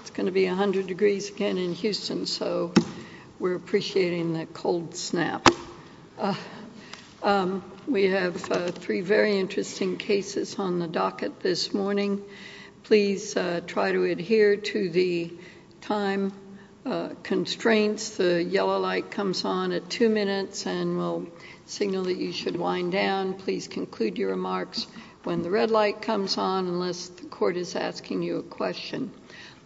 It's going to be 100 degrees again in Houston, so we're appreciating that cold snap. We have three very interesting cases on the docket this morning. Please try to adhere to the time constraints. The yellow light comes on at two minutes and will signal that you should wind down. Please conclude your remarks when the red light comes on unless the court is asking you a question.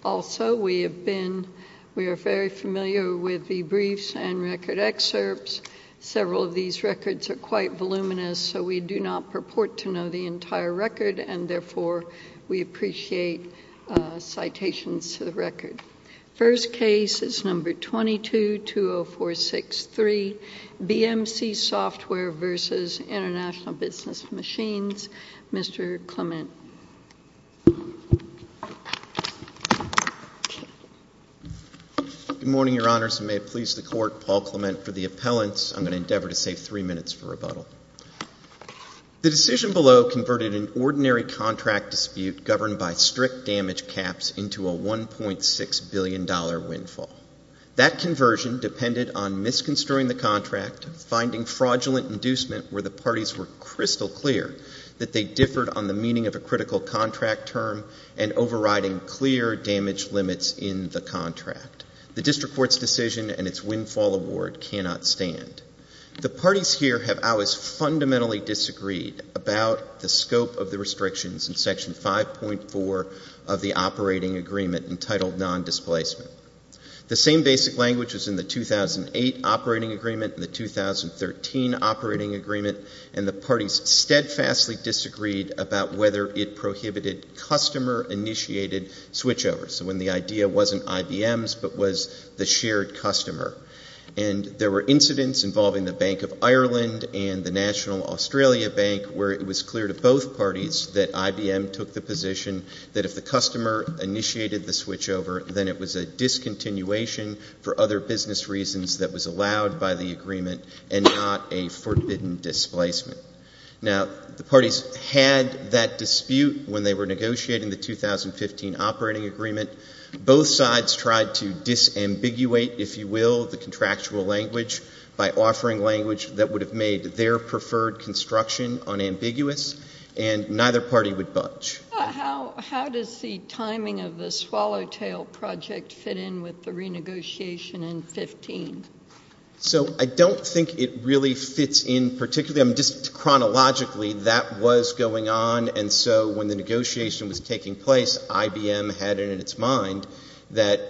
Also, we are very familiar with the briefs and record excerpts. Several of these records are quite voluminous, so we do not purport to know the entire record, and therefore we appreciate citations to the record. First case is No. 22-20463, BMC Software v. Intl Bus Machines. Mr. Clement. Good morning, Your Honors, and may it please the Court, Paul Clement for the appellants. I'm going to endeavor to save three minutes for rebuttal. The decision below converted an ordinary contract dispute governed by strict damage caps into a $1.6 billion windfall. That conversion depended on misconstruing the contract, finding fraudulent inducement where the parties were crystal clear that they differed on the meaning of a critical contract term and overriding clear damage limits in the contract. The district court's decision and its windfall award cannot stand. The parties here have always fundamentally disagreed about the scope of the restrictions in Section 5.4 of the Operating Agreement entitled Non-Displacement. The same basic language was in the 2008 Operating Agreement and the 2013 Operating Agreement, and the parties steadfastly disagreed about whether it prohibited customer-initiated switchovers, so when the idea wasn't IBM's but was the shared customer. And there were incidents involving the Bank of Ireland and the National Australia Bank where it was clear to both parties that IBM took the position that if the customer initiated the switchover, then it was a discontinuation for other business reasons that was allowed by the agreement and not a forbidden displacement. Now, the parties had that dispute when they were negotiating the 2015 Operating Agreement. Both sides tried to disambiguate, if you will, the contractual language by offering language that would have made their preferred construction unambiguous, and neither party would budge. How does the timing of the Swallowtail Project fit in with the renegotiation in 2015? So I don't think it really fits in particularly. I mean, just chronologically, that was going on, and so when the negotiation was taking place, IBM had it in its mind that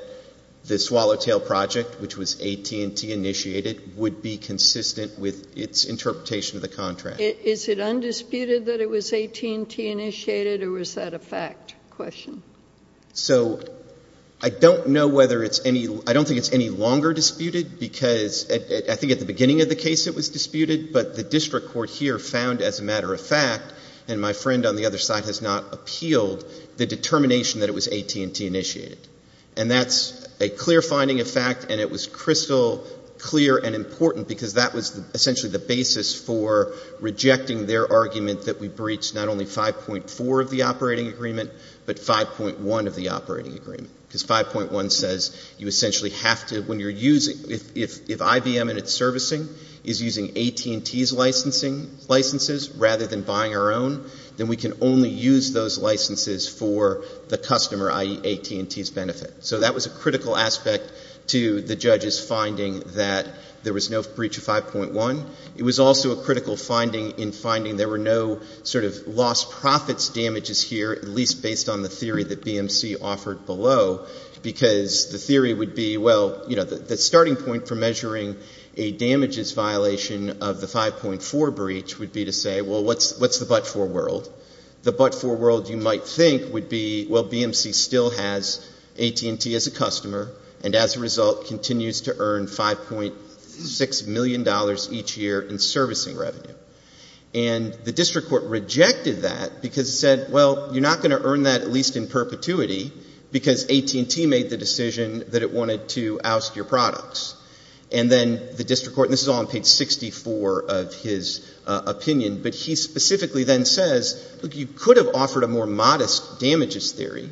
the Swallowtail Project, which was AT&T-initiated, would be consistent with its interpretation of the contract. Is it undisputed that it was AT&T-initiated, or was that a fact question? So I don't think it's any longer disputed because I think at the beginning of the case it was disputed, but the district court here found as a matter of fact, and my friend on the other side has not appealed, the determination that it was AT&T-initiated. And that's a clear finding of fact, and it was crystal clear and important because that was essentially the basis for rejecting their argument that we breached not only 5.4 of the Operating Agreement but 5.1 of the Operating Agreement because 5.1 says you essentially have to, when you're using, if IBM and its servicing is using AT&T's licenses rather than buying our own, then we can only use those licenses for the customer, i.e. AT&T's benefit. So that was a critical aspect to the judge's finding that there was no breach of 5.1. It was also a critical finding in finding there were no sort of lost profits damages here, at least based on the theory that BMC offered below, because the theory would be, well, the starting point for measuring a damages violation of the 5.4 breach would be to say, well, what's the but-for world? The but-for world, you might think, would be, well, BMC still has AT&T as a customer and as a result continues to earn $5.6 million each year in servicing revenue. And the district court rejected that because it said, well, you're not going to earn that at least in perpetuity because AT&T made the decision that it wanted to oust your products. And then the district court, and this is all on page 64 of his opinion, but he specifically then says, look, you could have offered a more modest damages theory.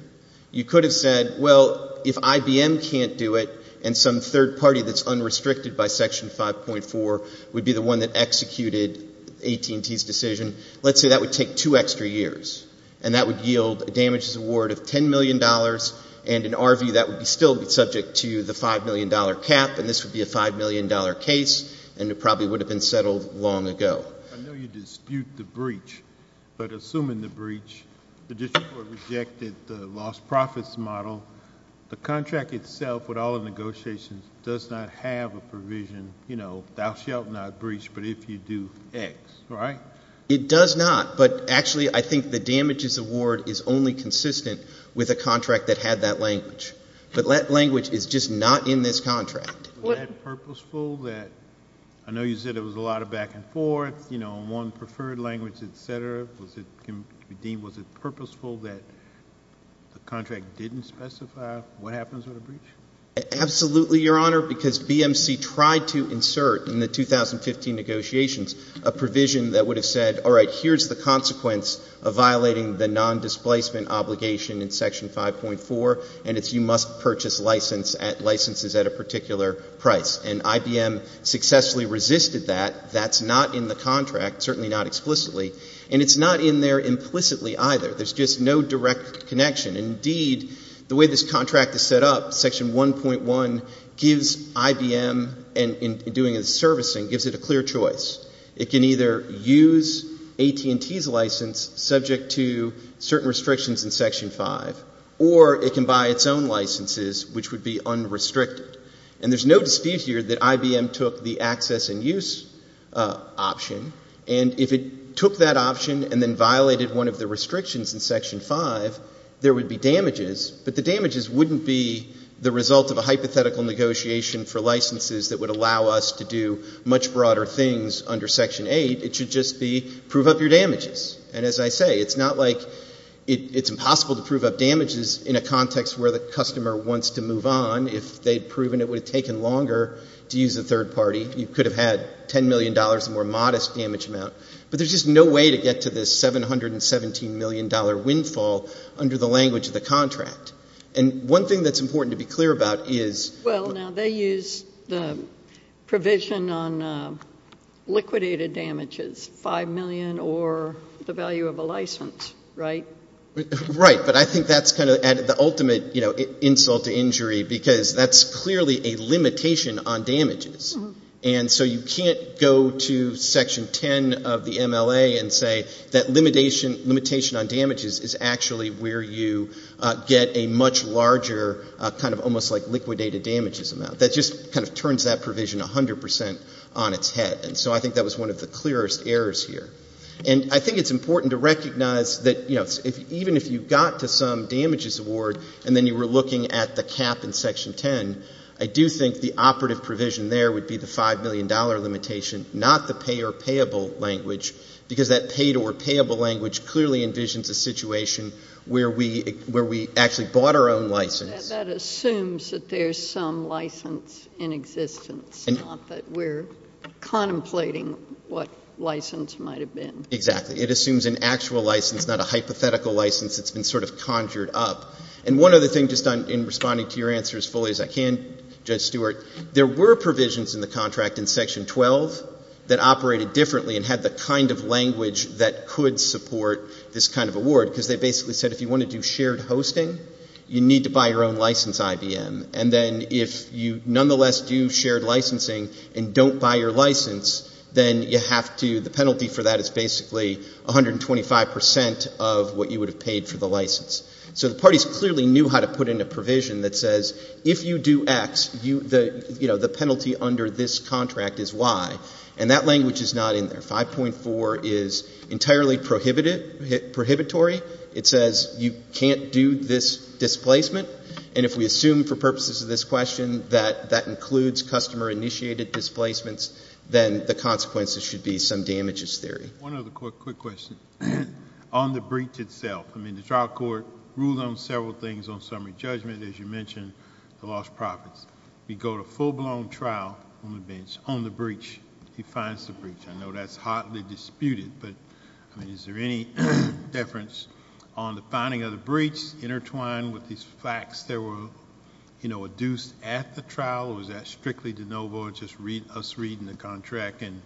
You could have said, well, if IBM can't do it and some third party that's unrestricted by Section 5.4 would be the one that executed AT&T's decision, let's say that would take two extra years and that would yield a damages award of $10 million and in our view that would still be subject to the $5 million cap and this would be a $5 million case and it probably would have been settled long ago. I know you dispute the breach, but assuming the breach, the district court rejected the lost profits model, the contract itself with all the negotiations does not have a provision, you know, thou shalt not breach but if you do, X, right? It does not. But actually I think the damages award is only consistent with a contract that had that language. But that language is just not in this contract. Was that purposeful that, I know you said it was a lot of back and forth, you know, one preferred language, et cetera. Was it deemed, was it purposeful that the contract didn't specify what happens with a breach? Absolutely, Your Honor, because BMC tried to insert in the 2015 negotiations a provision that would have said, all right, here's the consequence of violating the nondisplacement obligation in Section 5.4 and it's you must purchase licenses at a particular price. And IBM successfully resisted that. That's not in the contract, certainly not explicitly, and it's not in there implicitly either. There's just no direct connection. Indeed, the way this contract is set up, Section 1.1 gives IBM in doing its servicing, gives it a clear choice. It can either use AT&T's license subject to certain restrictions in Section 5 or it can buy its own licenses, which would be unrestricted. And there's no dispute here that IBM took the access and use option, and if it took that option and then violated one of the restrictions in Section 5, there would be damages, but the damages wouldn't be the result of a hypothetical negotiation for licenses that would allow us to do much broader things under Section 8. It should just be prove up your damages. And as I say, it's not like it's impossible to prove up damages in a context where the customer wants to move on. If they'd proven it would have taken longer to use a third party, you could have had $10 million, a more modest damage amount, but there's just no way to get to this $717 million windfall under the language of the contract. And one thing that's important to be clear about is Well, now they use the provision on liquidated damages, $5 million or the value of a license, right? Right, but I think that's kind of the ultimate insult to injury because that's clearly a limitation on damages. And so you can't go to Section 10 of the MLA and say that limitation on damages is actually where you get a much larger kind of almost like liquidated damages amount. That just kind of turns that provision 100% on its head. And so I think that was one of the clearest errors here. And I think it's important to recognize that even if you got to some damages award and then you were looking at the cap in Section 10, I do think the operative provision there would be the $5 million limitation, not the pay or payable language, because that pay or payable language clearly envisions a situation where we actually bought our own license. That assumes that there's some license in existence, not that we're contemplating what license might have been. Exactly. It assumes an actual license, not a hypothetical license that's been sort of conjured up. And one other thing, just in responding to your answer as fully as I can, Judge Stewart, there were provisions in the contract in Section 12 that operated differently and had the kind of language that could support this kind of award, because they basically said if you want to do shared hosting, you need to buy your own license, IBM. And then if you nonetheless do shared licensing and don't buy your license, then you have to, the penalty for that is basically 125% of what you would have paid for the license. So the parties clearly knew how to put in a provision that says if you do X, the penalty under this contract is Y. And that language is not in there. 5.4 is entirely prohibitory. It says you can't do this displacement, and if we assume for purposes of this question that that includes customer-initiated displacements, then the consequences should be some damages theory. One other quick question. On the breach itself, I mean, the trial court ruled on several things on summary judgment, as you mentioned, the lost profits. We go to full-blown trial on the bench, on the breach, he finds the breach. I know that's hotly disputed, but, I mean, is there any difference on the finding of the breach intertwined with these facts that were, you know, adduced at the trial, or is that strictly de novo, just us reading the contract and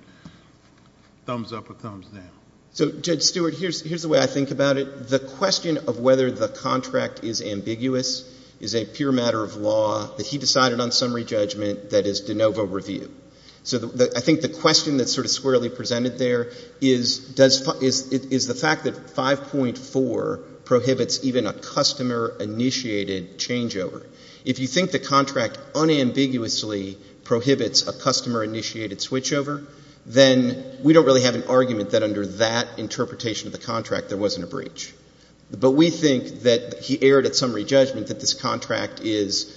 thumbs up or thumbs down? So, Judge Stewart, here's the way I think about it. The question of whether the contract is ambiguous is a pure matter of law that he decided on summary judgment that is de novo review. So I think the question that's sort of squarely presented there is the fact that 5.4 prohibits even a customer-initiated changeover. If you think the contract unambiguously prohibits a customer-initiated switchover, then we don't really have an argument that under that interpretation of the contract there wasn't a breach. But we think that he erred at summary judgment that this contract is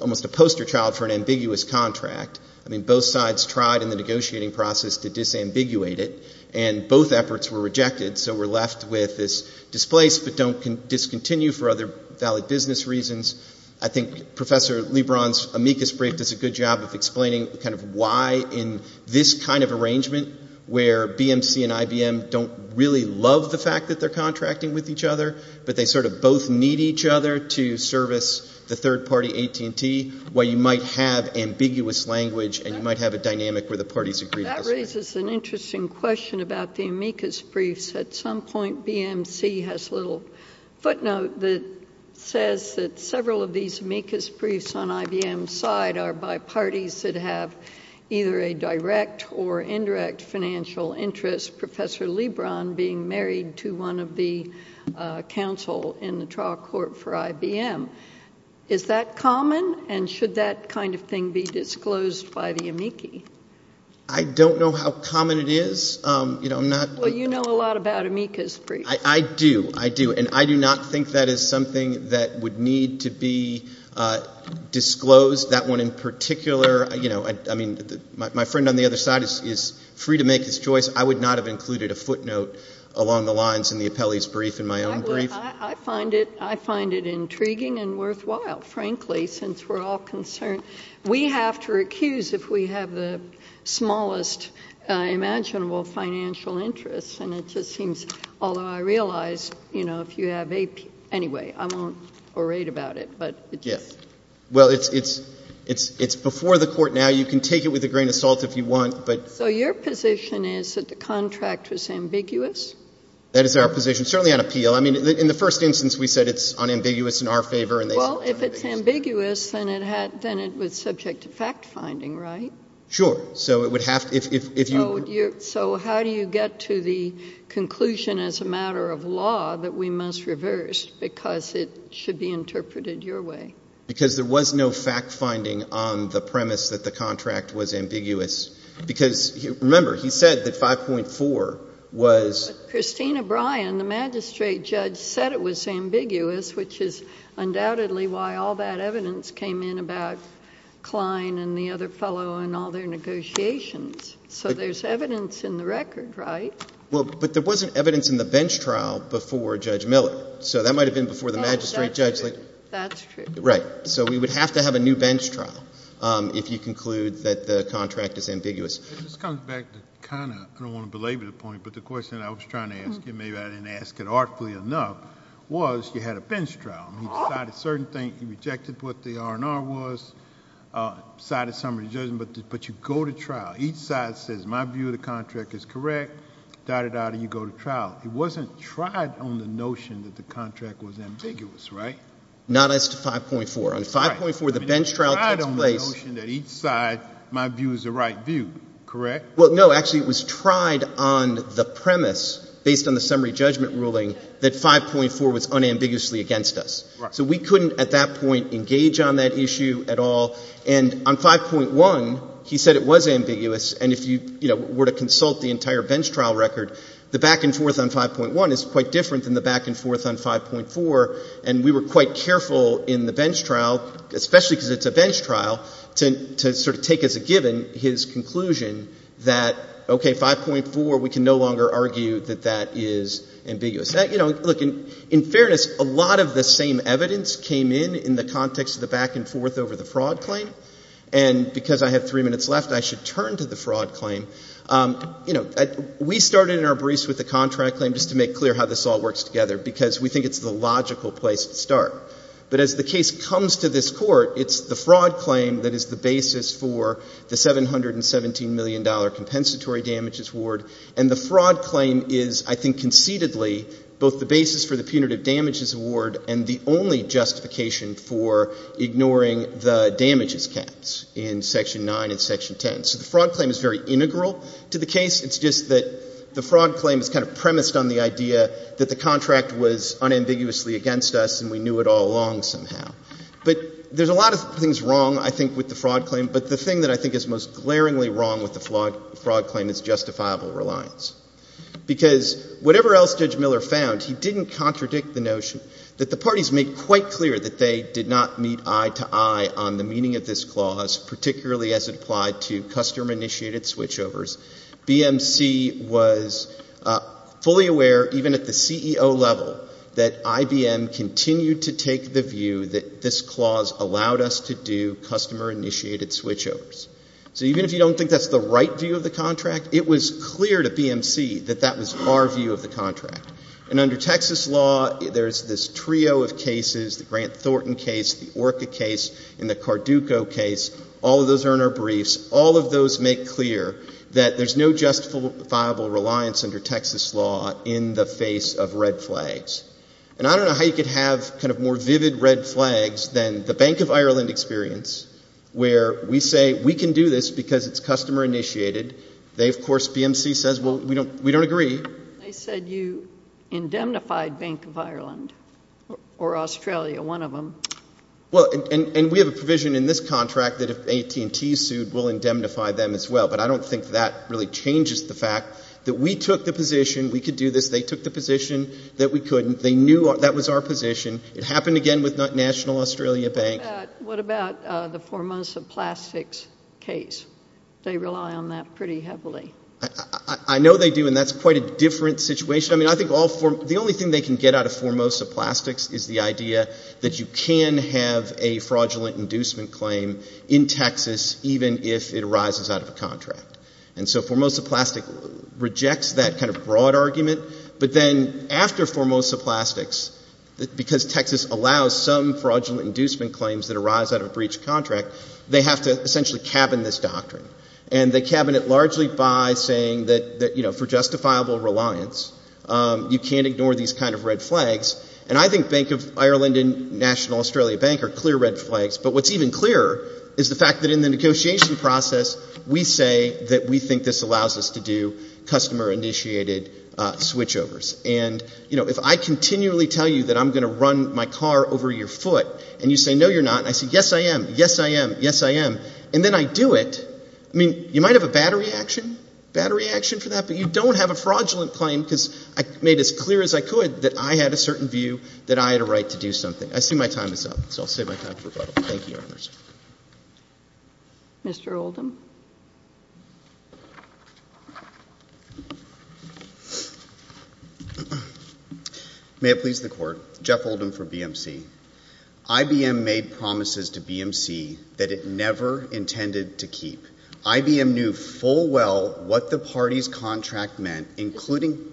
almost a poster child for an ambiguous contract. I mean, both sides tried in the negotiating process to disambiguate it, and both efforts were rejected, so we're left with this displaced but don't discontinue for other valid business reasons. I think Professor LeBron's amicus brief does a good job of explaining kind of why in this kind of arrangement where BMC and IBM don't really love the fact that they're contracting with each other, but they sort of both need each other to service the third-party AT&T, why you might have ambiguous language and you might have a dynamic where the parties agree. That raises an interesting question about the amicus briefs. At some point BMC has a little footnote that says that several of these amicus briefs on IBM's side are by parties that have either a direct or indirect financial interest, Professor LeBron being married to one of the counsel in the trial court for IBM. Is that common, and should that kind of thing be disclosed by the amici? I don't know how common it is. Well, you know a lot about amicus briefs. I do, I do, and I do not think that is something that would need to be disclosed. That one in particular, I mean, my friend on the other side is free to make his choice. I would not have included a footnote along the lines in the appellee's brief in my own brief. I find it intriguing and worthwhile, frankly, since we're all concerned. We have to recuse if we have the smallest imaginable financial interest, and it just seems, although I realize, you know, if you have AP, anyway, I won't orate about it. Yeah. Well, it's before the court now. You can take it with a grain of salt if you want. So your position is that the contract was ambiguous? That is our position, certainly on appeal. I mean, in the first instance we said it's unambiguous in our favor. Well, if it's ambiguous, then it was subject to fact-finding, right? Sure. So it would have to be. So how do you get to the conclusion as a matter of law that we must reverse because it should be interpreted your way? Because there was no fact-finding on the premise that the contract was ambiguous. Because, remember, he said that 5.4 was. But Christina Bryan, the magistrate judge, said it was ambiguous, which is undoubtedly why all that evidence came in about Klein and the other fellow and all their negotiations. So there's evidence in the record, right? Well, but there wasn't evidence in the bench trial before Judge Miller. So that might have been before the magistrate judge. That's true. Right. So we would have to have a new bench trial if you conclude that the contract is ambiguous. It just comes back to kind of ‑‑ I don't want to belabor the point, but the question I was trying to ask you, maybe I didn't ask it artfully enough, was you had a bench trial. He decided certain things. He rejected what the R&R was. Decided somebody's judgment. But you go to trial. Each side says my view of the contract is correct. Dot, dot, dot, and you go to trial. It wasn't tried on the notion that the contract was ambiguous, right? Not as to 5.4. On 5.4, the bench trial takes place. The notion that each side, my view is the right view, correct? Well, no. Actually, it was tried on the premise, based on the summary judgment ruling, that 5.4 was unambiguously against us. Right. So we couldn't at that point engage on that issue at all. And on 5.1, he said it was ambiguous. And if you were to consult the entire bench trial record, the back and forth on 5.1 is quite different than the back and forth on 5.4. And we were quite careful in the bench trial, especially because it's a bench trial, to sort of take as a given his conclusion that, okay, 5.4, we can no longer argue that that is ambiguous. You know, look, in fairness, a lot of the same evidence came in in the context of the back and forth over the fraud claim. And because I have three minutes left, I should turn to the fraud claim. You know, we started in our briefs with the contract claim just to make clear how this all works together because we think it's the logical place to start. But as the case comes to this court, it's the fraud claim that is the basis for the $717 million compensatory damages award. And the fraud claim is, I think, concededly both the basis for the punitive damages award and the only justification for ignoring the damages caps in Section 9 and Section 10. So the fraud claim is very integral to the case. It's just that the fraud claim is kind of premised on the idea that the contract was unambiguously against us and we knew it all along somehow. But there's a lot of things wrong, I think, with the fraud claim. But the thing that I think is most glaringly wrong with the fraud claim is justifiable reliance. Because whatever else Judge Miller found, he didn't contradict the notion that the parties made quite clear that they did not meet eye to eye on the meaning of this clause, particularly as it applied to customer-initiated switchovers. BMC was fully aware, even at the CEO level, that IBM continued to take the view that this clause allowed us to do customer-initiated switchovers. So even if you don't think that's the right view of the contract, it was clear to BMC that that was our view of the contract. And under Texas law, there's this trio of cases, the Grant Thornton case, the Orca case, and the Carduco case. All of those are in our briefs. All of those make clear that there's no justifiable reliance under Texas law in the face of red flags. And I don't know how you could have kind of more vivid red flags than the Bank of Ireland experience where we say we can do this because it's customer-initiated. They, of course, BMC says, well, we don't agree. They said you indemnified Bank of Ireland or Australia, one of them. Well, and we have a provision in this contract that if AT&T sued, we'll indemnify them as well. But I don't think that really changes the fact that we took the position we could do this. They took the position that we couldn't. They knew that was our position. It happened again with National Australia Bank. What about the Formosa Plastics case? They rely on that pretty heavily. I know they do, and that's quite a different situation. I mean, I think the only thing they can get out of Formosa Plastics is the idea that you can have a fraudulent inducement claim in Texas even if it arises out of a contract. And so Formosa Plastics rejects that kind of broad argument. But then after Formosa Plastics, because Texas allows some fraudulent inducement claims that arise out of a breach of contract, they have to essentially cabin this doctrine. And they cabin it largely by saying that, you know, for justifiable reliance, you can't ignore these kind of red flags. And I think Bank of Ireland and National Australia Bank are clear red flags. But what's even clearer is the fact that in the negotiation process, we say that we think this allows us to do customer-initiated switchovers. And, you know, if I continually tell you that I'm going to run my car over your foot and you say, no, you're not, and I say, yes, I am, yes, I am, yes, I am, and then I do it, I mean, you might have a bad reaction for that, but you don't have a fraudulent claim because I made it as clear as I could that I had a certain view that I had a right to do something. I see my time is up, so I'll save my time for rebuttal. Thank you, Your Honors. Mr. Oldham. May it please the Court. Jeff Oldham for BMC. IBM made promises to BMC that it never intended to keep. IBM knew full well what the party's contract meant, including...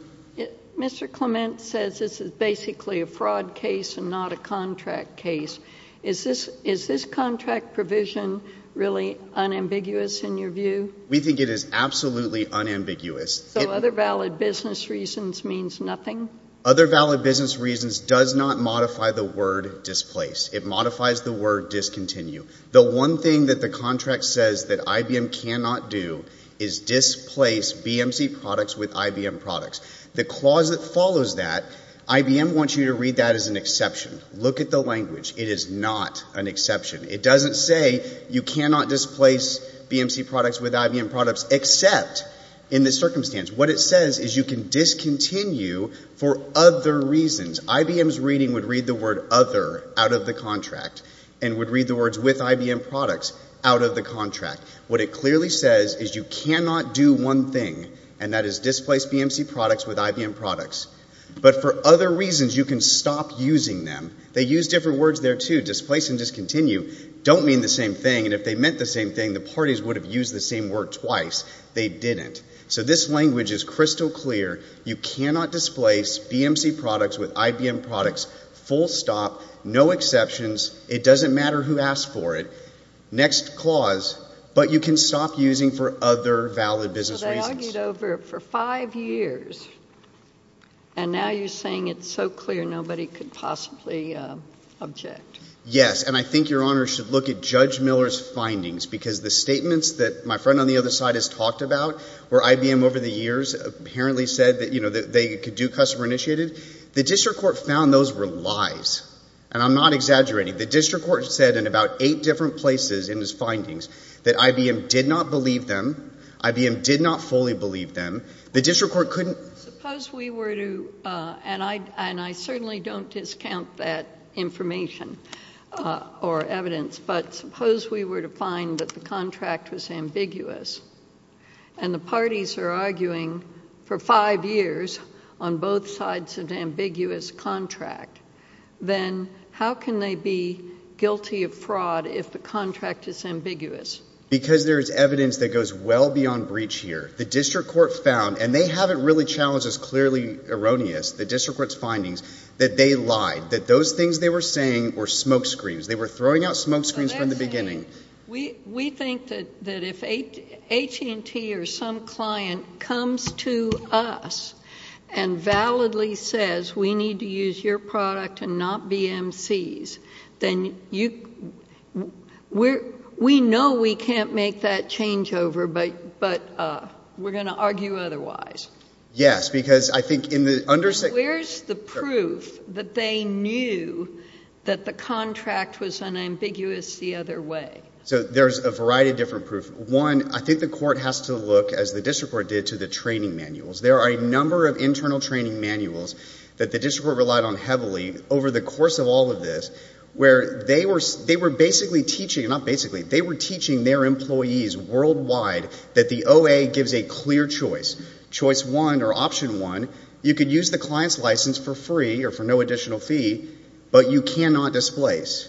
Mr. Clement says this is basically a fraud case and not a contract case. Is this contract provision really unambiguous in your view? We think it is absolutely unambiguous. So other valid business reasons means nothing? Other valid business reasons does not modify the word displace. It modifies the word discontinue. The one thing that the contract says that IBM cannot do is displace BMC products with IBM products. The clause that follows that, IBM wants you to read that as an exception. Look at the language. It is not an exception. It doesn't say you cannot displace BMC products with IBM products except in this circumstance. What it says is you can discontinue for other reasons. IBM's reading would read the word other out of the contract and would read the words with IBM products out of the contract. What it clearly says is you cannot do one thing, and that is displace BMC products with IBM products. But for other reasons, you can stop using them. They use different words there, too. Displace and discontinue don't mean the same thing. And if they meant the same thing, the parties would have used the same word twice. They didn't. So this language is crystal clear. You cannot displace BMC products with IBM products, full stop, no exceptions. It doesn't matter who asked for it. Next clause, but you can stop using for other valid business reasons. So they argued over it for five years, and now you're saying it's so clear nobody could possibly object. Yes, and I think Your Honor should look at Judge Miller's findings, because the statements that my friend on the other side has talked about where IBM over the years apparently said that, you know, they could do customer initiated, the district court found those were lies. And I'm not exaggerating. The district court said in about eight different places in his findings that IBM did not believe them. IBM did not fully believe them. The district court couldn't. Suppose we were to, and I certainly don't discount that information or evidence, but suppose we were to find that the contract was ambiguous, and the parties are arguing for five years on both sides of the ambiguous contract, then how can they be guilty of fraud if the contract is ambiguous? Because there is evidence that goes well beyond breach here. The district court found, and they haven't really challenged this clearly erroneous, the district court's findings that they lied, that those things they were saying were smoke screens. They were throwing out smoke screens from the beginning. We think that if AT&T or some client comes to us and validly says we need to use your product and not BMC's, then we know we can't make that changeover, but we're going to argue otherwise. Yes, because I think in the under- So where's the proof that they knew that the contract was unambiguous the other way? So there's a variety of different proof. One, I think the court has to look, as the district court did, to the training manuals. There are a number of internal training manuals that the district court relied on heavily over the course of all of this where they were basically teaching, not basically, they were teaching their employees worldwide that the OA gives a clear choice, choice one or option one. You could use the client's license for free or for no additional fee, but you cannot displace,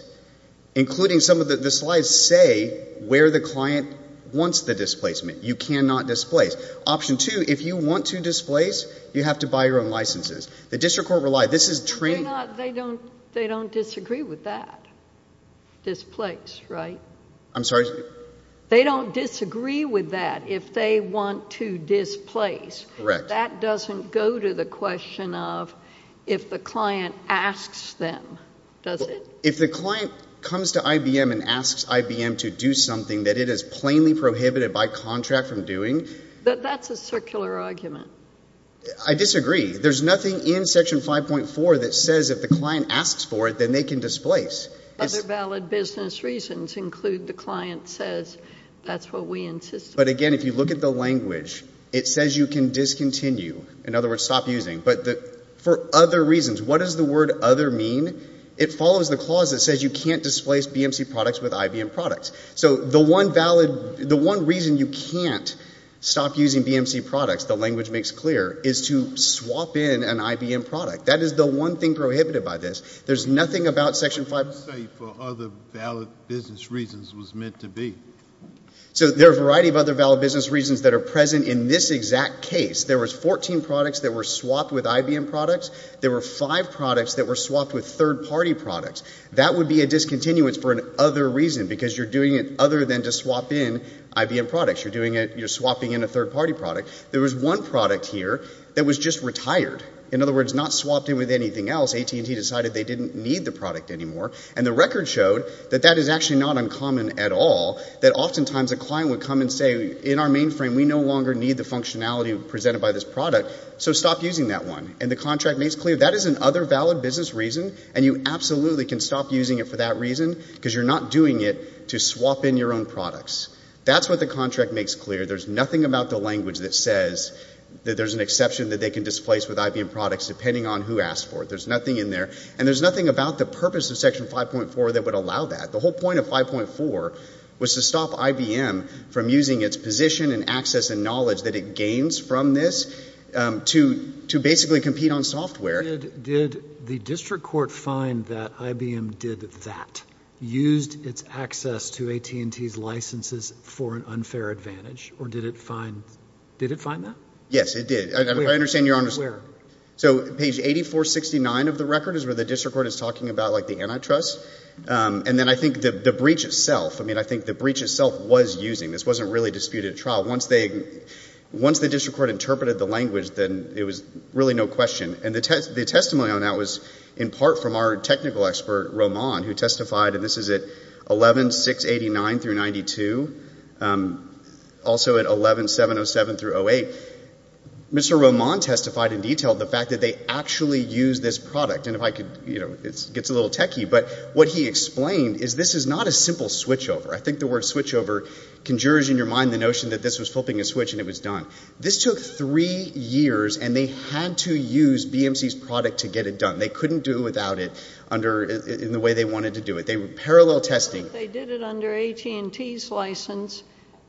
including some of the slides say where the client wants the displacement. You cannot displace. Option two, if you want to displace, you have to buy your own licenses. The district court relied. This is training. They don't disagree with that. Displace, right? I'm sorry? They don't disagree with that if they want to displace. Correct. That doesn't go to the question of if the client asks them, does it? If the client comes to IBM and asks IBM to do something that it has plainly prohibited by contract from doing. That's a circular argument. I disagree. There's nothing in Section 5.4 that says if the client asks for it, then they can displace. Other valid business reasons include the client says that's what we insist on. But, again, if you look at the language, it says you can discontinue. In other words, stop using. But for other reasons, what does the word other mean? It follows the clause that says you can't displace BMC products with IBM products. So the one valid, the one reason you can't stop using BMC products, the language makes clear, is to swap in an IBM product. That is the one thing prohibited by this. There's nothing about Section 5. What do you say for other valid business reasons was meant to be? So there are a variety of other valid business reasons that are present in this exact case. There was 14 products that were swapped with IBM products. There were five products that were swapped with third-party products. That would be a discontinuance for an other reason because you're doing it other than to swap in IBM products. You're doing it, you're swapping in a third-party product. There was one product here that was just retired. In other words, not swapped in with anything else. AT&T decided they didn't need the product anymore. And the record showed that that is actually not uncommon at all, that oftentimes a client would come and say, in our mainframe, we no longer need the functionality presented by this product, so stop using that one. And the contract makes clear that is an other valid business reason, and you absolutely can stop using it for that reason because you're not doing it to swap in your own products. That's what the contract makes clear. There's nothing about the language that says that there's an exception that they can displace with IBM products depending on who asked for it. There's nothing in there. And there's nothing about the purpose of Section 5.4 that would allow that. The whole point of 5.4 was to stop IBM from using its position and access and knowledge that it gains from this to basically compete on software. Did the district court find that IBM did that, used its access to AT&T's licenses for an unfair advantage, or did it find that? Yes, it did. Where? So page 8469 of the record is where the district court is talking about, like, the antitrust. And then I think the breach itself, I mean, I think the breach itself was using. This wasn't really disputed at trial. Once the district court interpreted the language, then it was really no question. And the testimony on that was in part from our technical expert, Roman, who testified, and this is at 11-689-92, also at 11-707-08. Mr. Roman testified in detail the fact that they actually used this product. And if I could, you know, it gets a little techy. But what he explained is this is not a simple switchover. I think the word switchover conjures in your mind the notion that this was flipping a switch and it was done. This took three years, and they had to use BMC's product to get it done. They couldn't do it without it in the way they wanted to do it. They were parallel testing. If they did it under AT&T's license,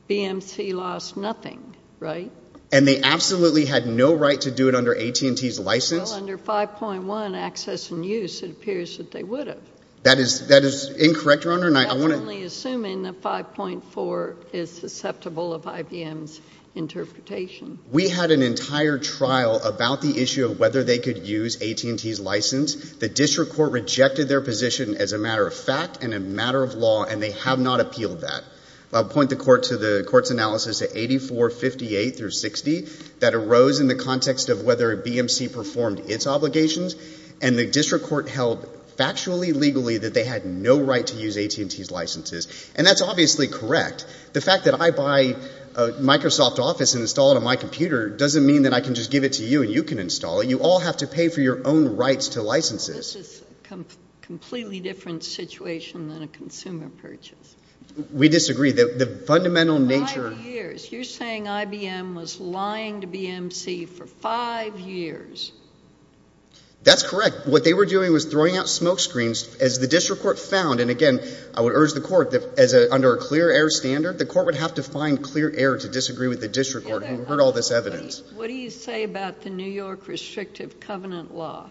BMC lost nothing, right? And they absolutely had no right to do it under AT&T's license. Well, under 5.1, access and use, it appears that they would have. That is incorrect, Your Honor. I'm only assuming that 5.4 is susceptible of IBM's interpretation. We had an entire trial about the issue of whether they could use AT&T's license. The district court rejected their position as a matter of fact and a matter of law, and they have not appealed that. I'll point the court's analysis to 8458 through 60 that arose in the context of whether BMC performed its obligations. And the district court held factually, legally that they had no right to use AT&T's licenses. And that's obviously correct. The fact that I buy a Microsoft Office and install it on my computer doesn't mean that I can just give it to you and you can install it. You all have to pay for your own rights to licenses. This is a completely different situation than a consumer purchase. We disagree. The fundamental nature— Five years. You're saying IBM was lying to BMC for five years. That's correct. What they were doing was throwing out smoke screens as the district court found. And, again, I would urge the court that under a clear air standard, the court would have to find clear air to disagree with the district court. We've heard all this evidence. What do you say about the New York restrictive covenant law?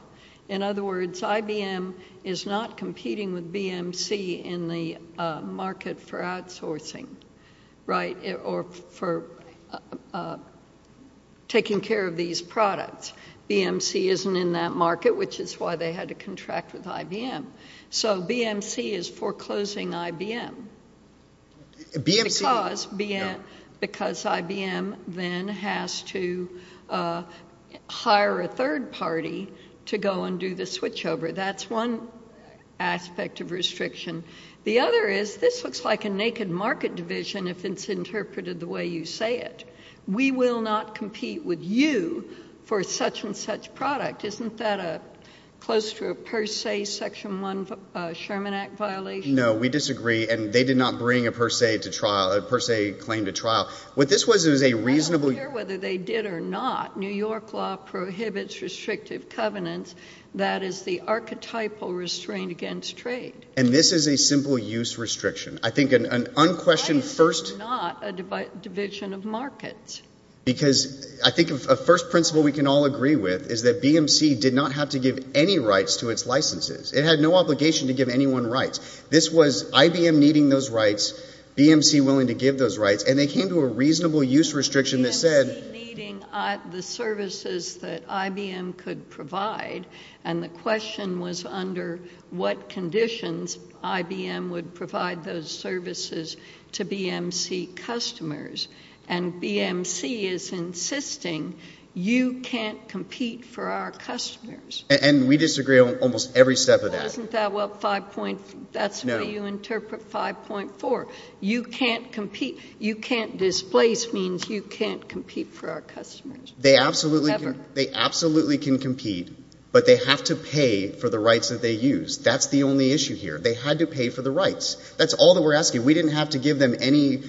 In other words, IBM is not competing with BMC in the market for outsourcing, right, or for taking care of these products. BMC isn't in that market, which is why they had to contract with IBM. So BMC is foreclosing IBM. Because IBM then has to hire a third party to go and do the switchover. That's one aspect of restriction. The other is this looks like a naked market division if it's interpreted the way you say it. We will not compete with you for such and such product. Isn't that close to a per se Section 1 Sherman Act violation? No, we disagree. And they did not bring a per se claim to trial. What this was is a reasonable I don't care whether they did or not. New York law prohibits restrictive covenants. That is the archetypal restraint against trade. And this is a simple use restriction. I think an unquestioned first It's not a division of markets. Because I think a first principle we can all agree with is that BMC did not have to give any rights to its licenses. It had no obligation to give anyone rights. This was IBM needing those rights. BMC willing to give those rights. And they came to a reasonable use restriction that said BMC needing the services that IBM could provide. And the question was under what conditions IBM would provide those services to BMC customers. And BMC is insisting you can't compete for our customers. And we disagree on almost every step of that. That's the way you interpret 5.4. You can't displace means you can't compete for our customers. They absolutely can compete. But they have to pay for the rights that they use. That's the only issue here. They had to pay for the rights. That's all that we're asking. We didn't have to give them any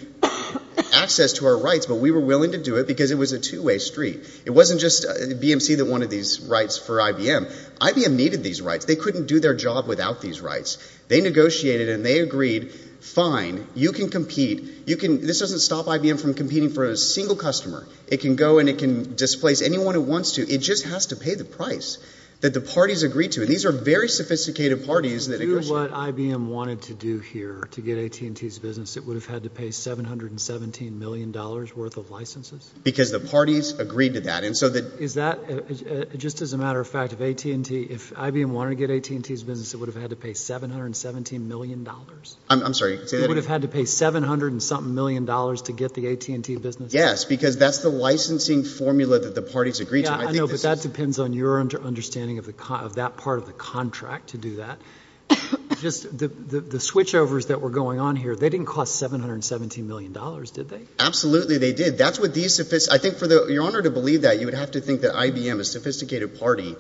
access to our rights. But we were willing to do it because it was a two-way street. It wasn't just BMC that wanted these rights for IBM. IBM needed these rights. They couldn't do their job without these rights. They negotiated and they agreed, fine, you can compete. This doesn't stop IBM from competing for a single customer. It can go and it can displace anyone it wants to. It just has to pay the price that the parties agreed to. And these are very sophisticated parties. If you knew what IBM wanted to do here to get AT&T's business, it would have had to pay $717 million worth of licenses? Because the parties agreed to that. Just as a matter of fact, if IBM wanted to get AT&T's business, it would have had to pay $717 million? I'm sorry, say that again. It would have had to pay $700-something million to get the AT&T business? Yes, because that's the licensing formula that the parties agreed to. I know, but that depends on your understanding of that part of the contract to do that. The switchovers that were going on here, they didn't cost $717 million, did they? Absolutely they did. I think for your Honor to believe that, you would have to think that IBM, a sophisticated party,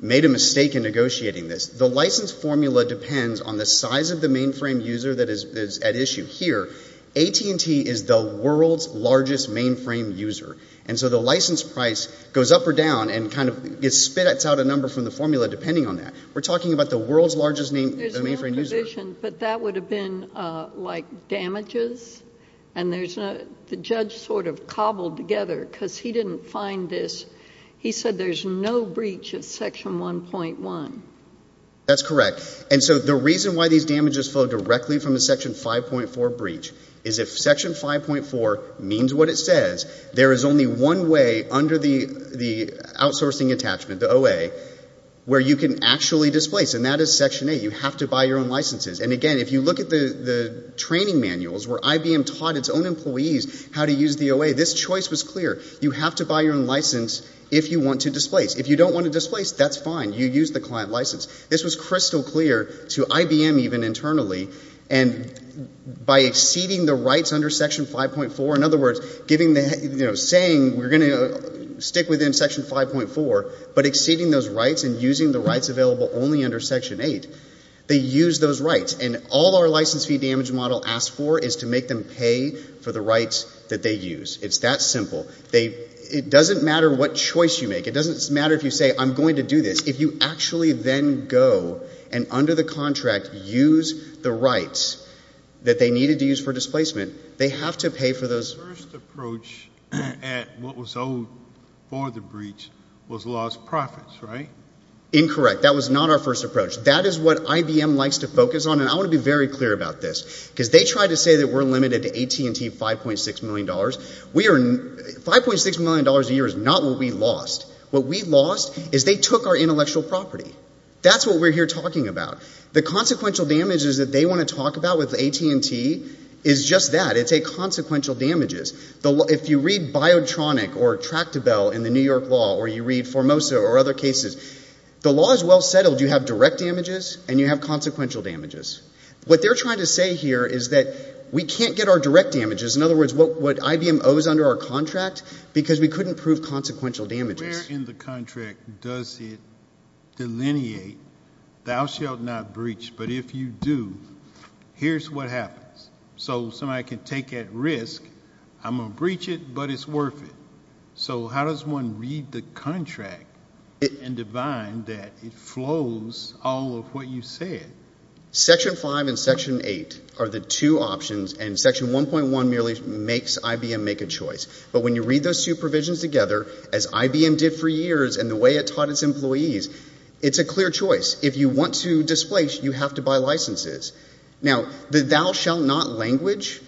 made a mistake in negotiating this. The license formula depends on the size of the mainframe user that is at issue. Here, AT&T is the world's largest mainframe user. And so the license price goes up or down and kind of spits out a number from the formula depending on that. We're talking about the world's largest mainframe user. There's no provision, but that would have been like damages. The judge sort of cobbled together because he didn't find this. He said there's no breach of Section 1.1. That's correct. And so the reason why these damages flow directly from a Section 5.4 breach is if Section 5.4 means what it says, there is only one way under the outsourcing attachment, the OA, where you can actually displace, and that is Section 8. You have to buy your own licenses. And again, if you look at the training manuals where IBM taught its own employees how to use the OA, this choice was clear. You have to buy your own license if you want to displace. If you don't want to displace, that's fine. You use the client license. This was crystal clear to IBM even internally. And by exceeding the rights under Section 5.4, in other words, saying we're going to stick within Section 5.4, but exceeding those rights and using the rights available only under Section 8, they use those rights. And all our license fee damage model asks for is to make them pay for the rights that they use. It's that simple. It doesn't matter what choice you make. It doesn't matter if you say I'm going to do this. If you actually then go and, under the contract, use the rights that they needed to use for displacement, they have to pay for those. The first approach at what was owed for the breach was lost profits, right? Incorrect. That was not our first approach. That is what IBM likes to focus on. And I want to be very clear about this because they try to say that we're limited to AT&T $5.6 million. $5.6 million a year is not what we lost. What we lost is they took our intellectual property. That's what we're here talking about. The consequential damages that they want to talk about with AT&T is just that. It's a consequential damages. If you read Biotronic or Tractabel in the New York law or you read Formosa or other cases, the law is well settled. You have direct damages and you have consequential damages. What they're trying to say here is that we can't get our direct damages, in other words, what IBM owes under our contract, because we couldn't prove consequential damages. Where in the contract does it delineate, thou shalt not breach, but if you do, here's what happens. So somebody can take that risk. I'm going to breach it, but it's worth it. So how does one read the contract and define that it flows all of what you said? Section 5 and Section 8 are the two options, and Section 1.1 merely makes IBM make a choice. But when you read those two provisions together, as IBM did for years and the way it taught its employees, it's a clear choice. If you want to displace, you have to buy licenses. Now, the thou shalt not language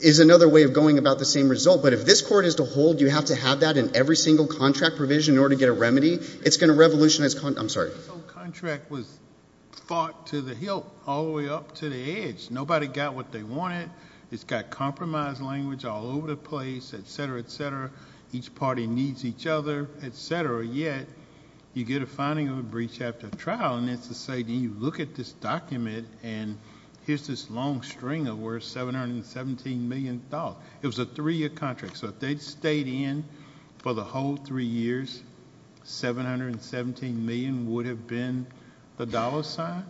is another way of going about the same result, but if this court is to hold you have to have that in every single contract provision in order to get a remedy, it's going to revolutionize. I'm sorry. The contract was fought to the hilt all the way up to the edge. Nobody got what they wanted. It's got compromise language all over the place, et cetera, et cetera. Each party needs each other, et cetera, yet you get a finding of a breach after a trial, and it's to say, do you look at this document and here's this long string of worth $717 million. It was a three-year contract, so if they'd stayed in for the whole three years, $717 million would have been the dollar sign?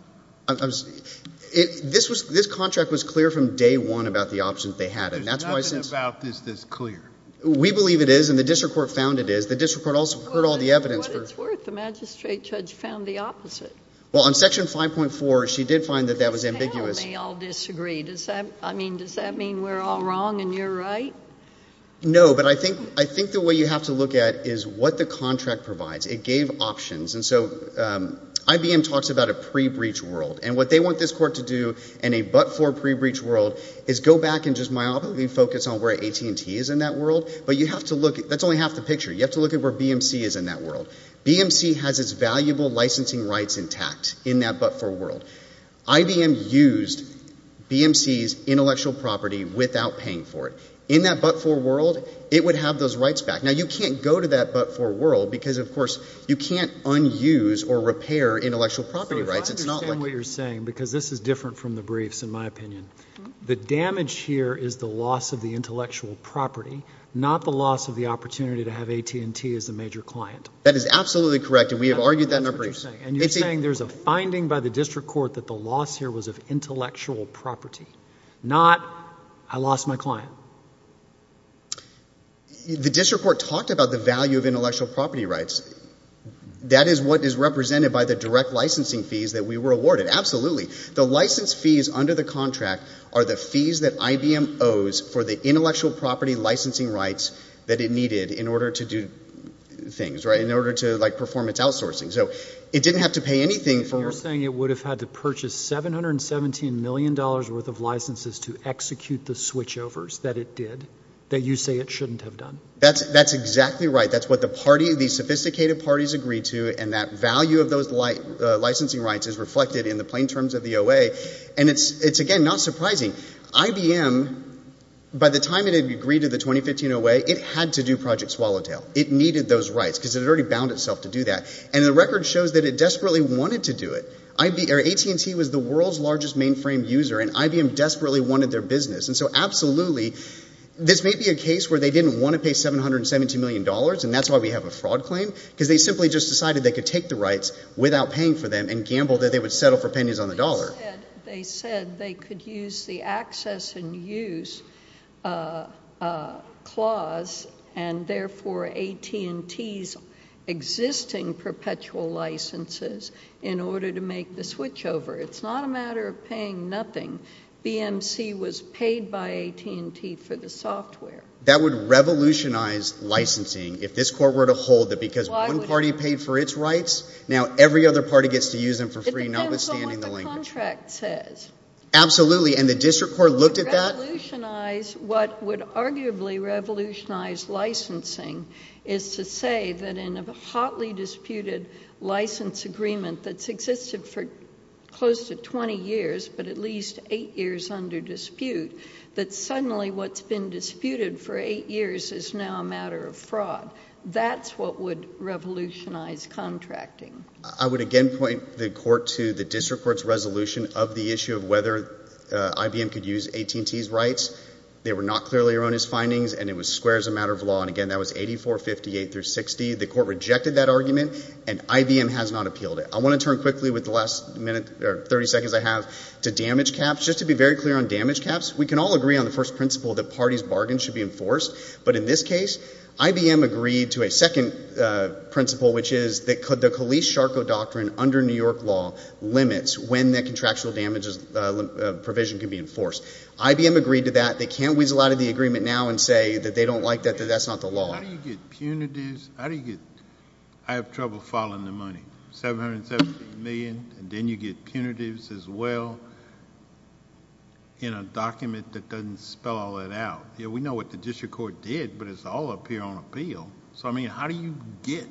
This contract was clear from day one about the options they had. There's nothing about this that's clear. We believe it is, and the district court found it is. The district court also heard all the evidence. What it's worth, the magistrate judge found the opposite. Well, on Section 5.4, she did find that that was ambiguous. Well, they all disagree. Does that mean we're all wrong and you're right? No, but I think the way you have to look at it is what the contract provides. It gave options, and so IBM talks about a pre-breach world, and what they want this court to do in a but-for pre-breach world is go back and just myopically focus on where AT&T is in that world, but you have to look at it. That's only half the picture. You have to look at where BMC is in that world. BMC has its valuable licensing rights intact in that but-for world. IBM used BMC's intellectual property without paying for it. In that but-for world, it would have those rights back. Now, you can't go to that but-for world because, of course, you can't un-use or repair intellectual property rights. So I understand what you're saying because this is different from the briefs, in my opinion. The damage here is the loss of the intellectual property, not the loss of the opportunity to have AT&T as the major client. That is absolutely correct, and we have argued that in our briefs. And you're saying there's a finding by the district court that the loss here was of intellectual property, not I lost my client. The district court talked about the value of intellectual property rights. That is what is represented by the direct licensing fees that we were awarded. Absolutely. The license fees under the contract are the fees that IBM owes for the intellectual property licensing rights that it needed in order to do things, in order to perform its outsourcing. So it didn't have to pay anything for- You're saying it would have had to purchase $717 million worth of licenses to execute the switchovers that it did, that you say it shouldn't have done. That's exactly right. That's what the sophisticated parties agreed to, and that value of those licensing rights is reflected in the plain terms of the OA. And it's, again, not surprising. IBM, by the time it had agreed to the 2015 OA, it had to do Project Swallowtail. It needed those rights because it had already bound itself to do that. And the record shows that it desperately wanted to do it. AT&T was the world's largest mainframe user, and IBM desperately wanted their business. And so, absolutely, this may be a case where they didn't want to pay $717 million, and that's why we have a fraud claim, because they simply just decided they could take the rights without paying for them and gambled that they would settle for pennies on the dollar. They said they could use the access and use clause, and therefore AT&T's existing perpetual licenses in order to make the switchover. It's not a matter of paying nothing. BMC was paid by AT&T for the software. That would revolutionize licensing if this court were to hold that because one party paid for its rights, now every other party gets to use them for free, notwithstanding the language. It depends on what the contract says. Absolutely, and the district court looked at that. What would arguably revolutionize licensing is to say that in a hotly disputed license agreement that's existed for close to 20 years, but at least eight years under dispute, that suddenly what's been disputed for eight years is now a matter of fraud. That's what would revolutionize contracting. I would again point the court to the district court's resolution of the issue of whether IBM could use AT&T's rights. They were not clearly around his findings, and it was square as a matter of law, and again, that was 84-58-60. The court rejected that argument, and IBM has not appealed it. I want to turn quickly with the last minute or 30 seconds I have to damage caps. Just to be very clear on damage caps, we can all agree on the first principle that parties' bargains should be enforced, but in this case, IBM agreed to a second principle, which is that the Kelice-Sharko doctrine under New York law limits when the contractual damages provision can be enforced. IBM agreed to that. They can't weasel out of the agreement now and say that they don't like that, that that's not the law. How do you get punitives? I have trouble following the money. $770 million, and then you get punitives as well in a document that doesn't spell all that out. We know what the district court did, but it's all up here on appeal. So, I mean, how do you get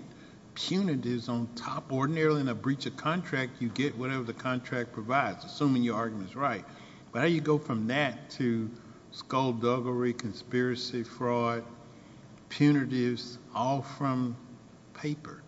punitives on top? Ordinarily in a breach of contract, you get whatever the contract provides, assuming your argument is right. But how do you go from that to skullduggery, conspiracy, fraud, punitives, all from paper?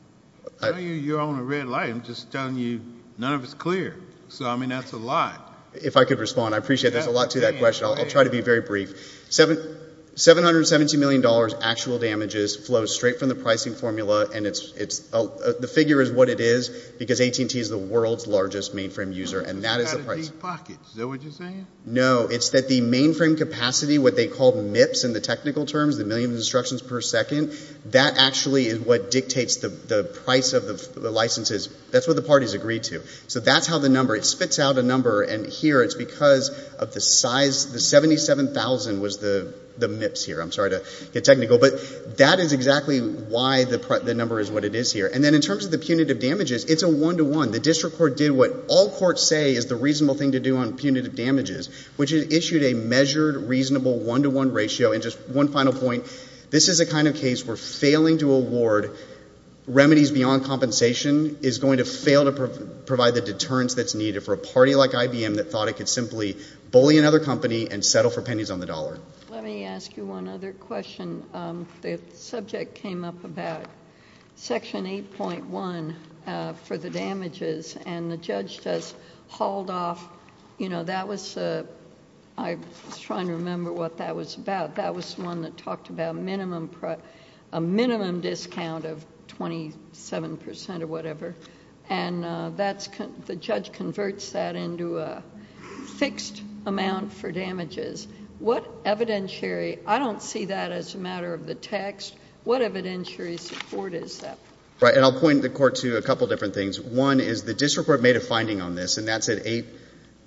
I know you're on a red light. I'm just telling you none of it's clear. So, I mean, that's a lot. If I could respond, I appreciate there's a lot to that question. I'll try to be very brief. $770 million actual damages flow straight from the pricing formula, and the figure is what it is because AT&T is the world's largest mainframe user, and that is the price. Out of these pockets, is that what you're saying? No, it's that the mainframe capacity, what they call MIPS in the technical terms, the million instructions per second, that actually is what dictates the price of the licenses. That's what the parties agreed to. So that's how the number, it spits out a number, and here it's because of the size. The $77,000 was the MIPS here. I'm sorry to get technical. But that is exactly why the number is what it is here. And then in terms of the punitive damages, it's a one-to-one. The district court did what all courts say is the reasonable thing to do on punitive damages, which it issued a measured, reasonable one-to-one ratio. And just one final point, this is the kind of case where failing to award remedies beyond compensation is going to fail to provide the deterrence that's needed for a party like IBM that thought it could simply bully another company and settle for pennies on the dollar. Let me ask you one other question. The subject came up about Section 8.1 for the damages, and the judge does hold off... I was trying to remember what that was about. That was the one that talked about a minimum discount of 27% or whatever, and the judge converts that into a fixed amount for damages. What evidentiary—I don't see that as a matter of the text. What evidentiary support is that? Right, and I'll point the court to a couple of different things. One is the district court made a finding on this, and that's at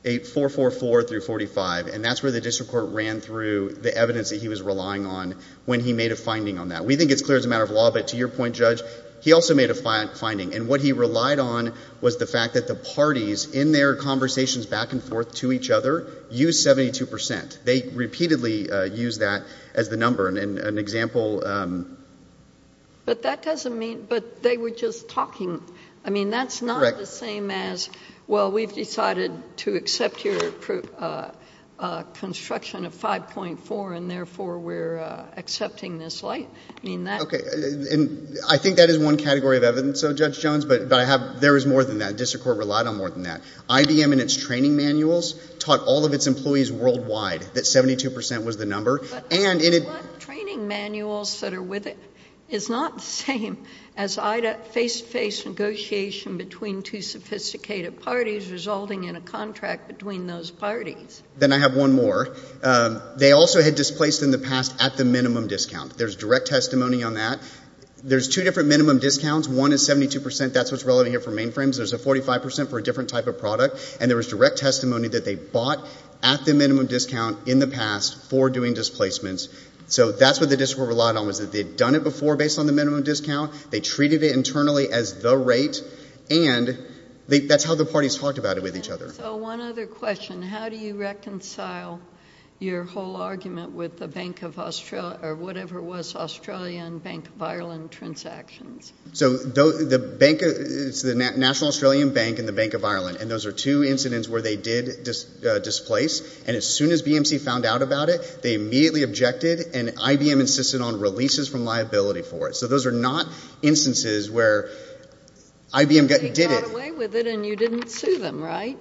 8444-45, and that's where the district court ran through the evidence that he was relying on when he made a finding on that. We think it's clear as a matter of law, but to your point, Judge, he also made a finding. And what he relied on was the fact that the parties, in their conversations back and forth to each other, used 72%. They repeatedly used that as the number. And an example... But that doesn't mean—but they were just talking. I mean, that's not the same as, well, we've decided to accept your construction of 5.4, and therefore we're accepting this light. Okay. And I think that is one category of evidence, so, Judge Jones, but I have—there is more than that. The district court relied on more than that. IBM in its training manuals taught all of its employees worldwide that 72% was the number. But the training manuals that are with it is not the same as face-to-face negotiation between two sophisticated parties resulting in a contract between those parties. Then I have one more. They also had displaced in the past at the minimum discount. There's direct testimony on that. There's two different minimum discounts. One is 72%. That's what's relevant here for mainframes. There's a 45% for a different type of product. And there was direct testimony that they bought at the minimum discount in the past for doing displacements. So that's what the district court relied on, was that they'd done it before based on the minimum discount. They treated it internally as the rate. And that's how the parties talked about it with each other. So one other question. How do you reconcile your whole argument with the Bank of Australia or whatever was Australian Bank of Ireland transactions? So the Bank of—it's the National Australian Bank and the Bank of Ireland. And those are two incidents where they did displace. And as soon as BMC found out about it, they immediately objected. And IBM insisted on releases from liability for it. So those are not instances where IBM did it. You got away with it and you didn't sue them, right?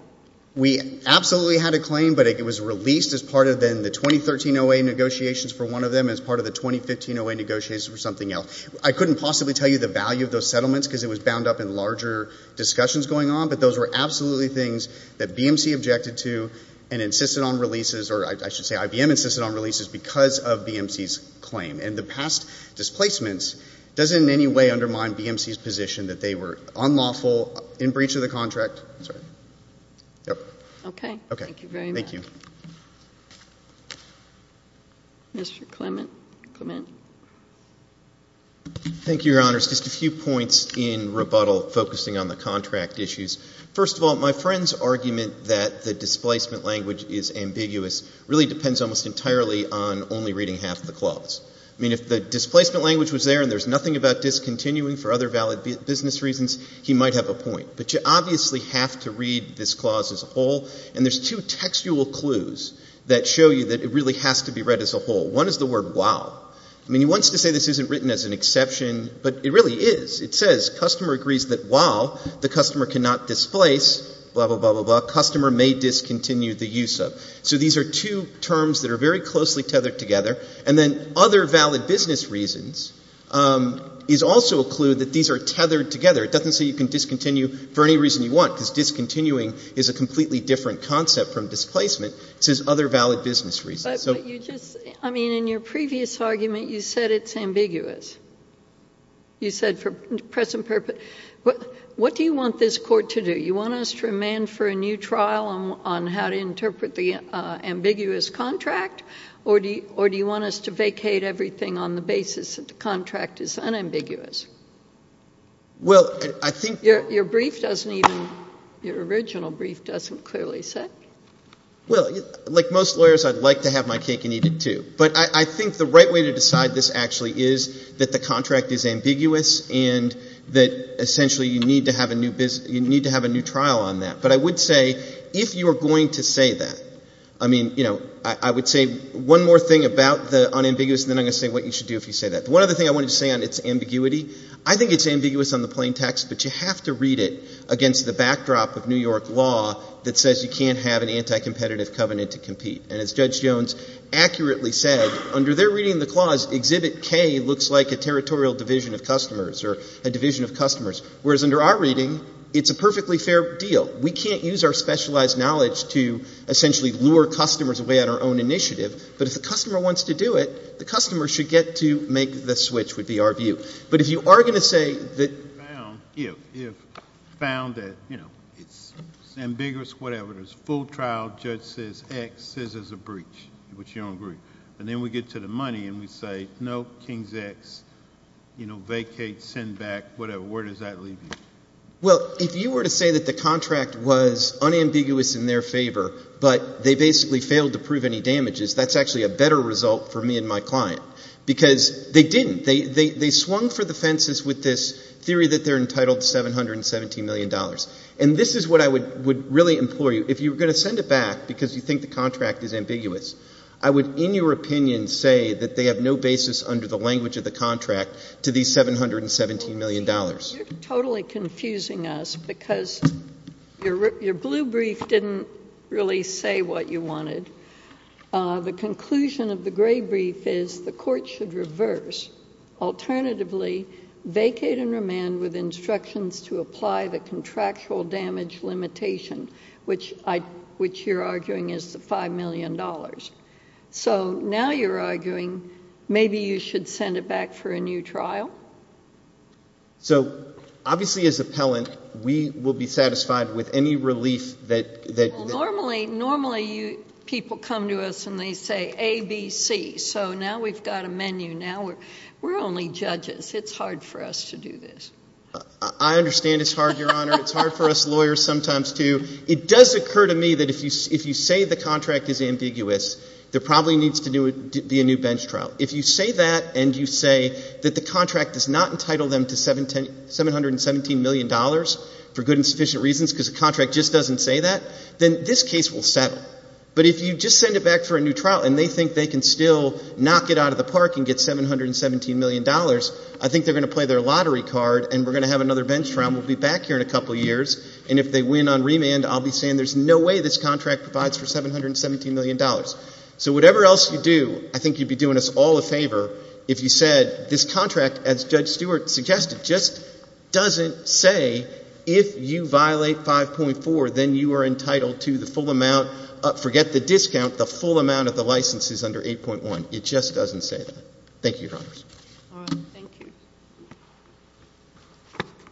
We absolutely had a claim, but it was released as part of the 2013 OA negotiations for one of them as part of the 2015 OA negotiations for something else. I couldn't possibly tell you the value of those settlements because it was bound up in larger discussions going on. But those were absolutely things that BMC objected to and insisted on releases, or I should say IBM insisted on releases because of BMC's claim. And the past displacements doesn't in any way undermine BMC's position that they were unlawful in breach of the contract. Sorry. Yep. Okay. Thank you very much. Thank you. Mr. Clement. Clement. Thank you, Your Honours. Just a few points in rebuttal focusing on the contract issues. First of all, my friend's argument that the displacement language is ambiguous really depends almost entirely on only reading half the clause. I mean, if the displacement language was there and there's nothing about discontinuing for other valid business reasons, he might have a point. But you obviously have to read this clause as a whole, and there's two textual clues that show you that it really has to be read as a whole. One is the word, while. I mean, he wants to say this isn't written as an exception, but it really is. It says, customer agrees that while the customer cannot displace, blah, blah, blah, blah, blah, customer may discontinue the use of. So these are two terms that are very closely tethered together. And then other valid business reasons is also a clue that these are tethered together. It doesn't say you can discontinue for any reason you want, because discontinuing is a completely different concept from displacement. It says other valid business reasons. But you just – I mean, in your previous argument, you said it's ambiguous. You said for present purpose. What do you want this Court to do? Do you want us to remand for a new trial on how to interpret the ambiguous contract, or do you want us to vacate everything on the basis that the contract is unambiguous? Well, I think – Your brief doesn't even – your original brief doesn't clearly say. Well, like most lawyers, I'd like to have my cake and eat it, too. But I think the right way to decide this actually is that the contract is ambiguous and that essentially you need to have a new trial on that. But I would say if you are going to say that – I mean, you know, I would say one more thing about the unambiguous, and then I'm going to say what you should do if you say that. The one other thing I wanted to say on its ambiguity, I think it's ambiguous on the plain text, but you have to read it against the backdrop of New York law that says you can't have an anti-competitive covenant to compete. And as Judge Jones accurately said, under their reading of the clause, Exhibit K looks like a territorial division of customers or a division of customers. Whereas under our reading, it's a perfectly fair deal. We can't use our specialized knowledge to essentially lure customers away on our own initiative. But if the customer wants to do it, the customer should get to make the switch, would be our view. But if you are going to say that – If found that, you know, it's ambiguous, whatever, there's a full trial, judge says X, says there's a breach, which you don't agree. And then we get to the money and we say, no, Kings X, you know, vacate, send back, whatever. Where does that leave you? Well, if you were to say that the contract was unambiguous in their favor, but they basically failed to prove any damages, that's actually a better result for me and my client. Because they didn't. They swung for the fences with this theory that they're entitled to $717 million. And this is what I would really implore you. If you were going to send it back because you think the contract is ambiguous, I would, in your opinion, say that they have no basis under the language of the contract to these $717 million. You're totally confusing us because your blue brief didn't really say what you wanted. The conclusion of the gray brief is the court should reverse. Alternatively, vacate and remand with instructions to apply the contractual damage limitation, which you're arguing is the $5 million. So now you're arguing maybe you should send it back for a new trial? So obviously as appellant, we will be satisfied with any relief that... Well, normally people come to us and they say A, B, C. So now we've got a menu. Now we're only judges. It's hard for us to do this. I understand it's hard, Your Honor. It's hard for us lawyers sometimes too. It does occur to me that if you say the contract is ambiguous, there probably needs to be a new bench trial. If you say that and you say that the contract does not entitle them to $717 million for good and sufficient reasons because the contract just doesn't say that, then this case will settle. But if you just send it back for a new trial and they think they can still knock it out of the park and get $717 million, I think they're going to play their lottery card and we're going to have another bench trial and we'll be back here in a couple of years. And if they win on remand, I'll be saying there's no way this contract provides for $717 million. So whatever else you do, I think you'd be doing us all a favor if you said this contract, as Judge Stewart suggested, just doesn't say if you violate 5.4, then you are entitled to the full amount. Forget the discount. The full amount of the license is under 8.1. It just doesn't say that. Thank you, Your Honors. All right. Thank you.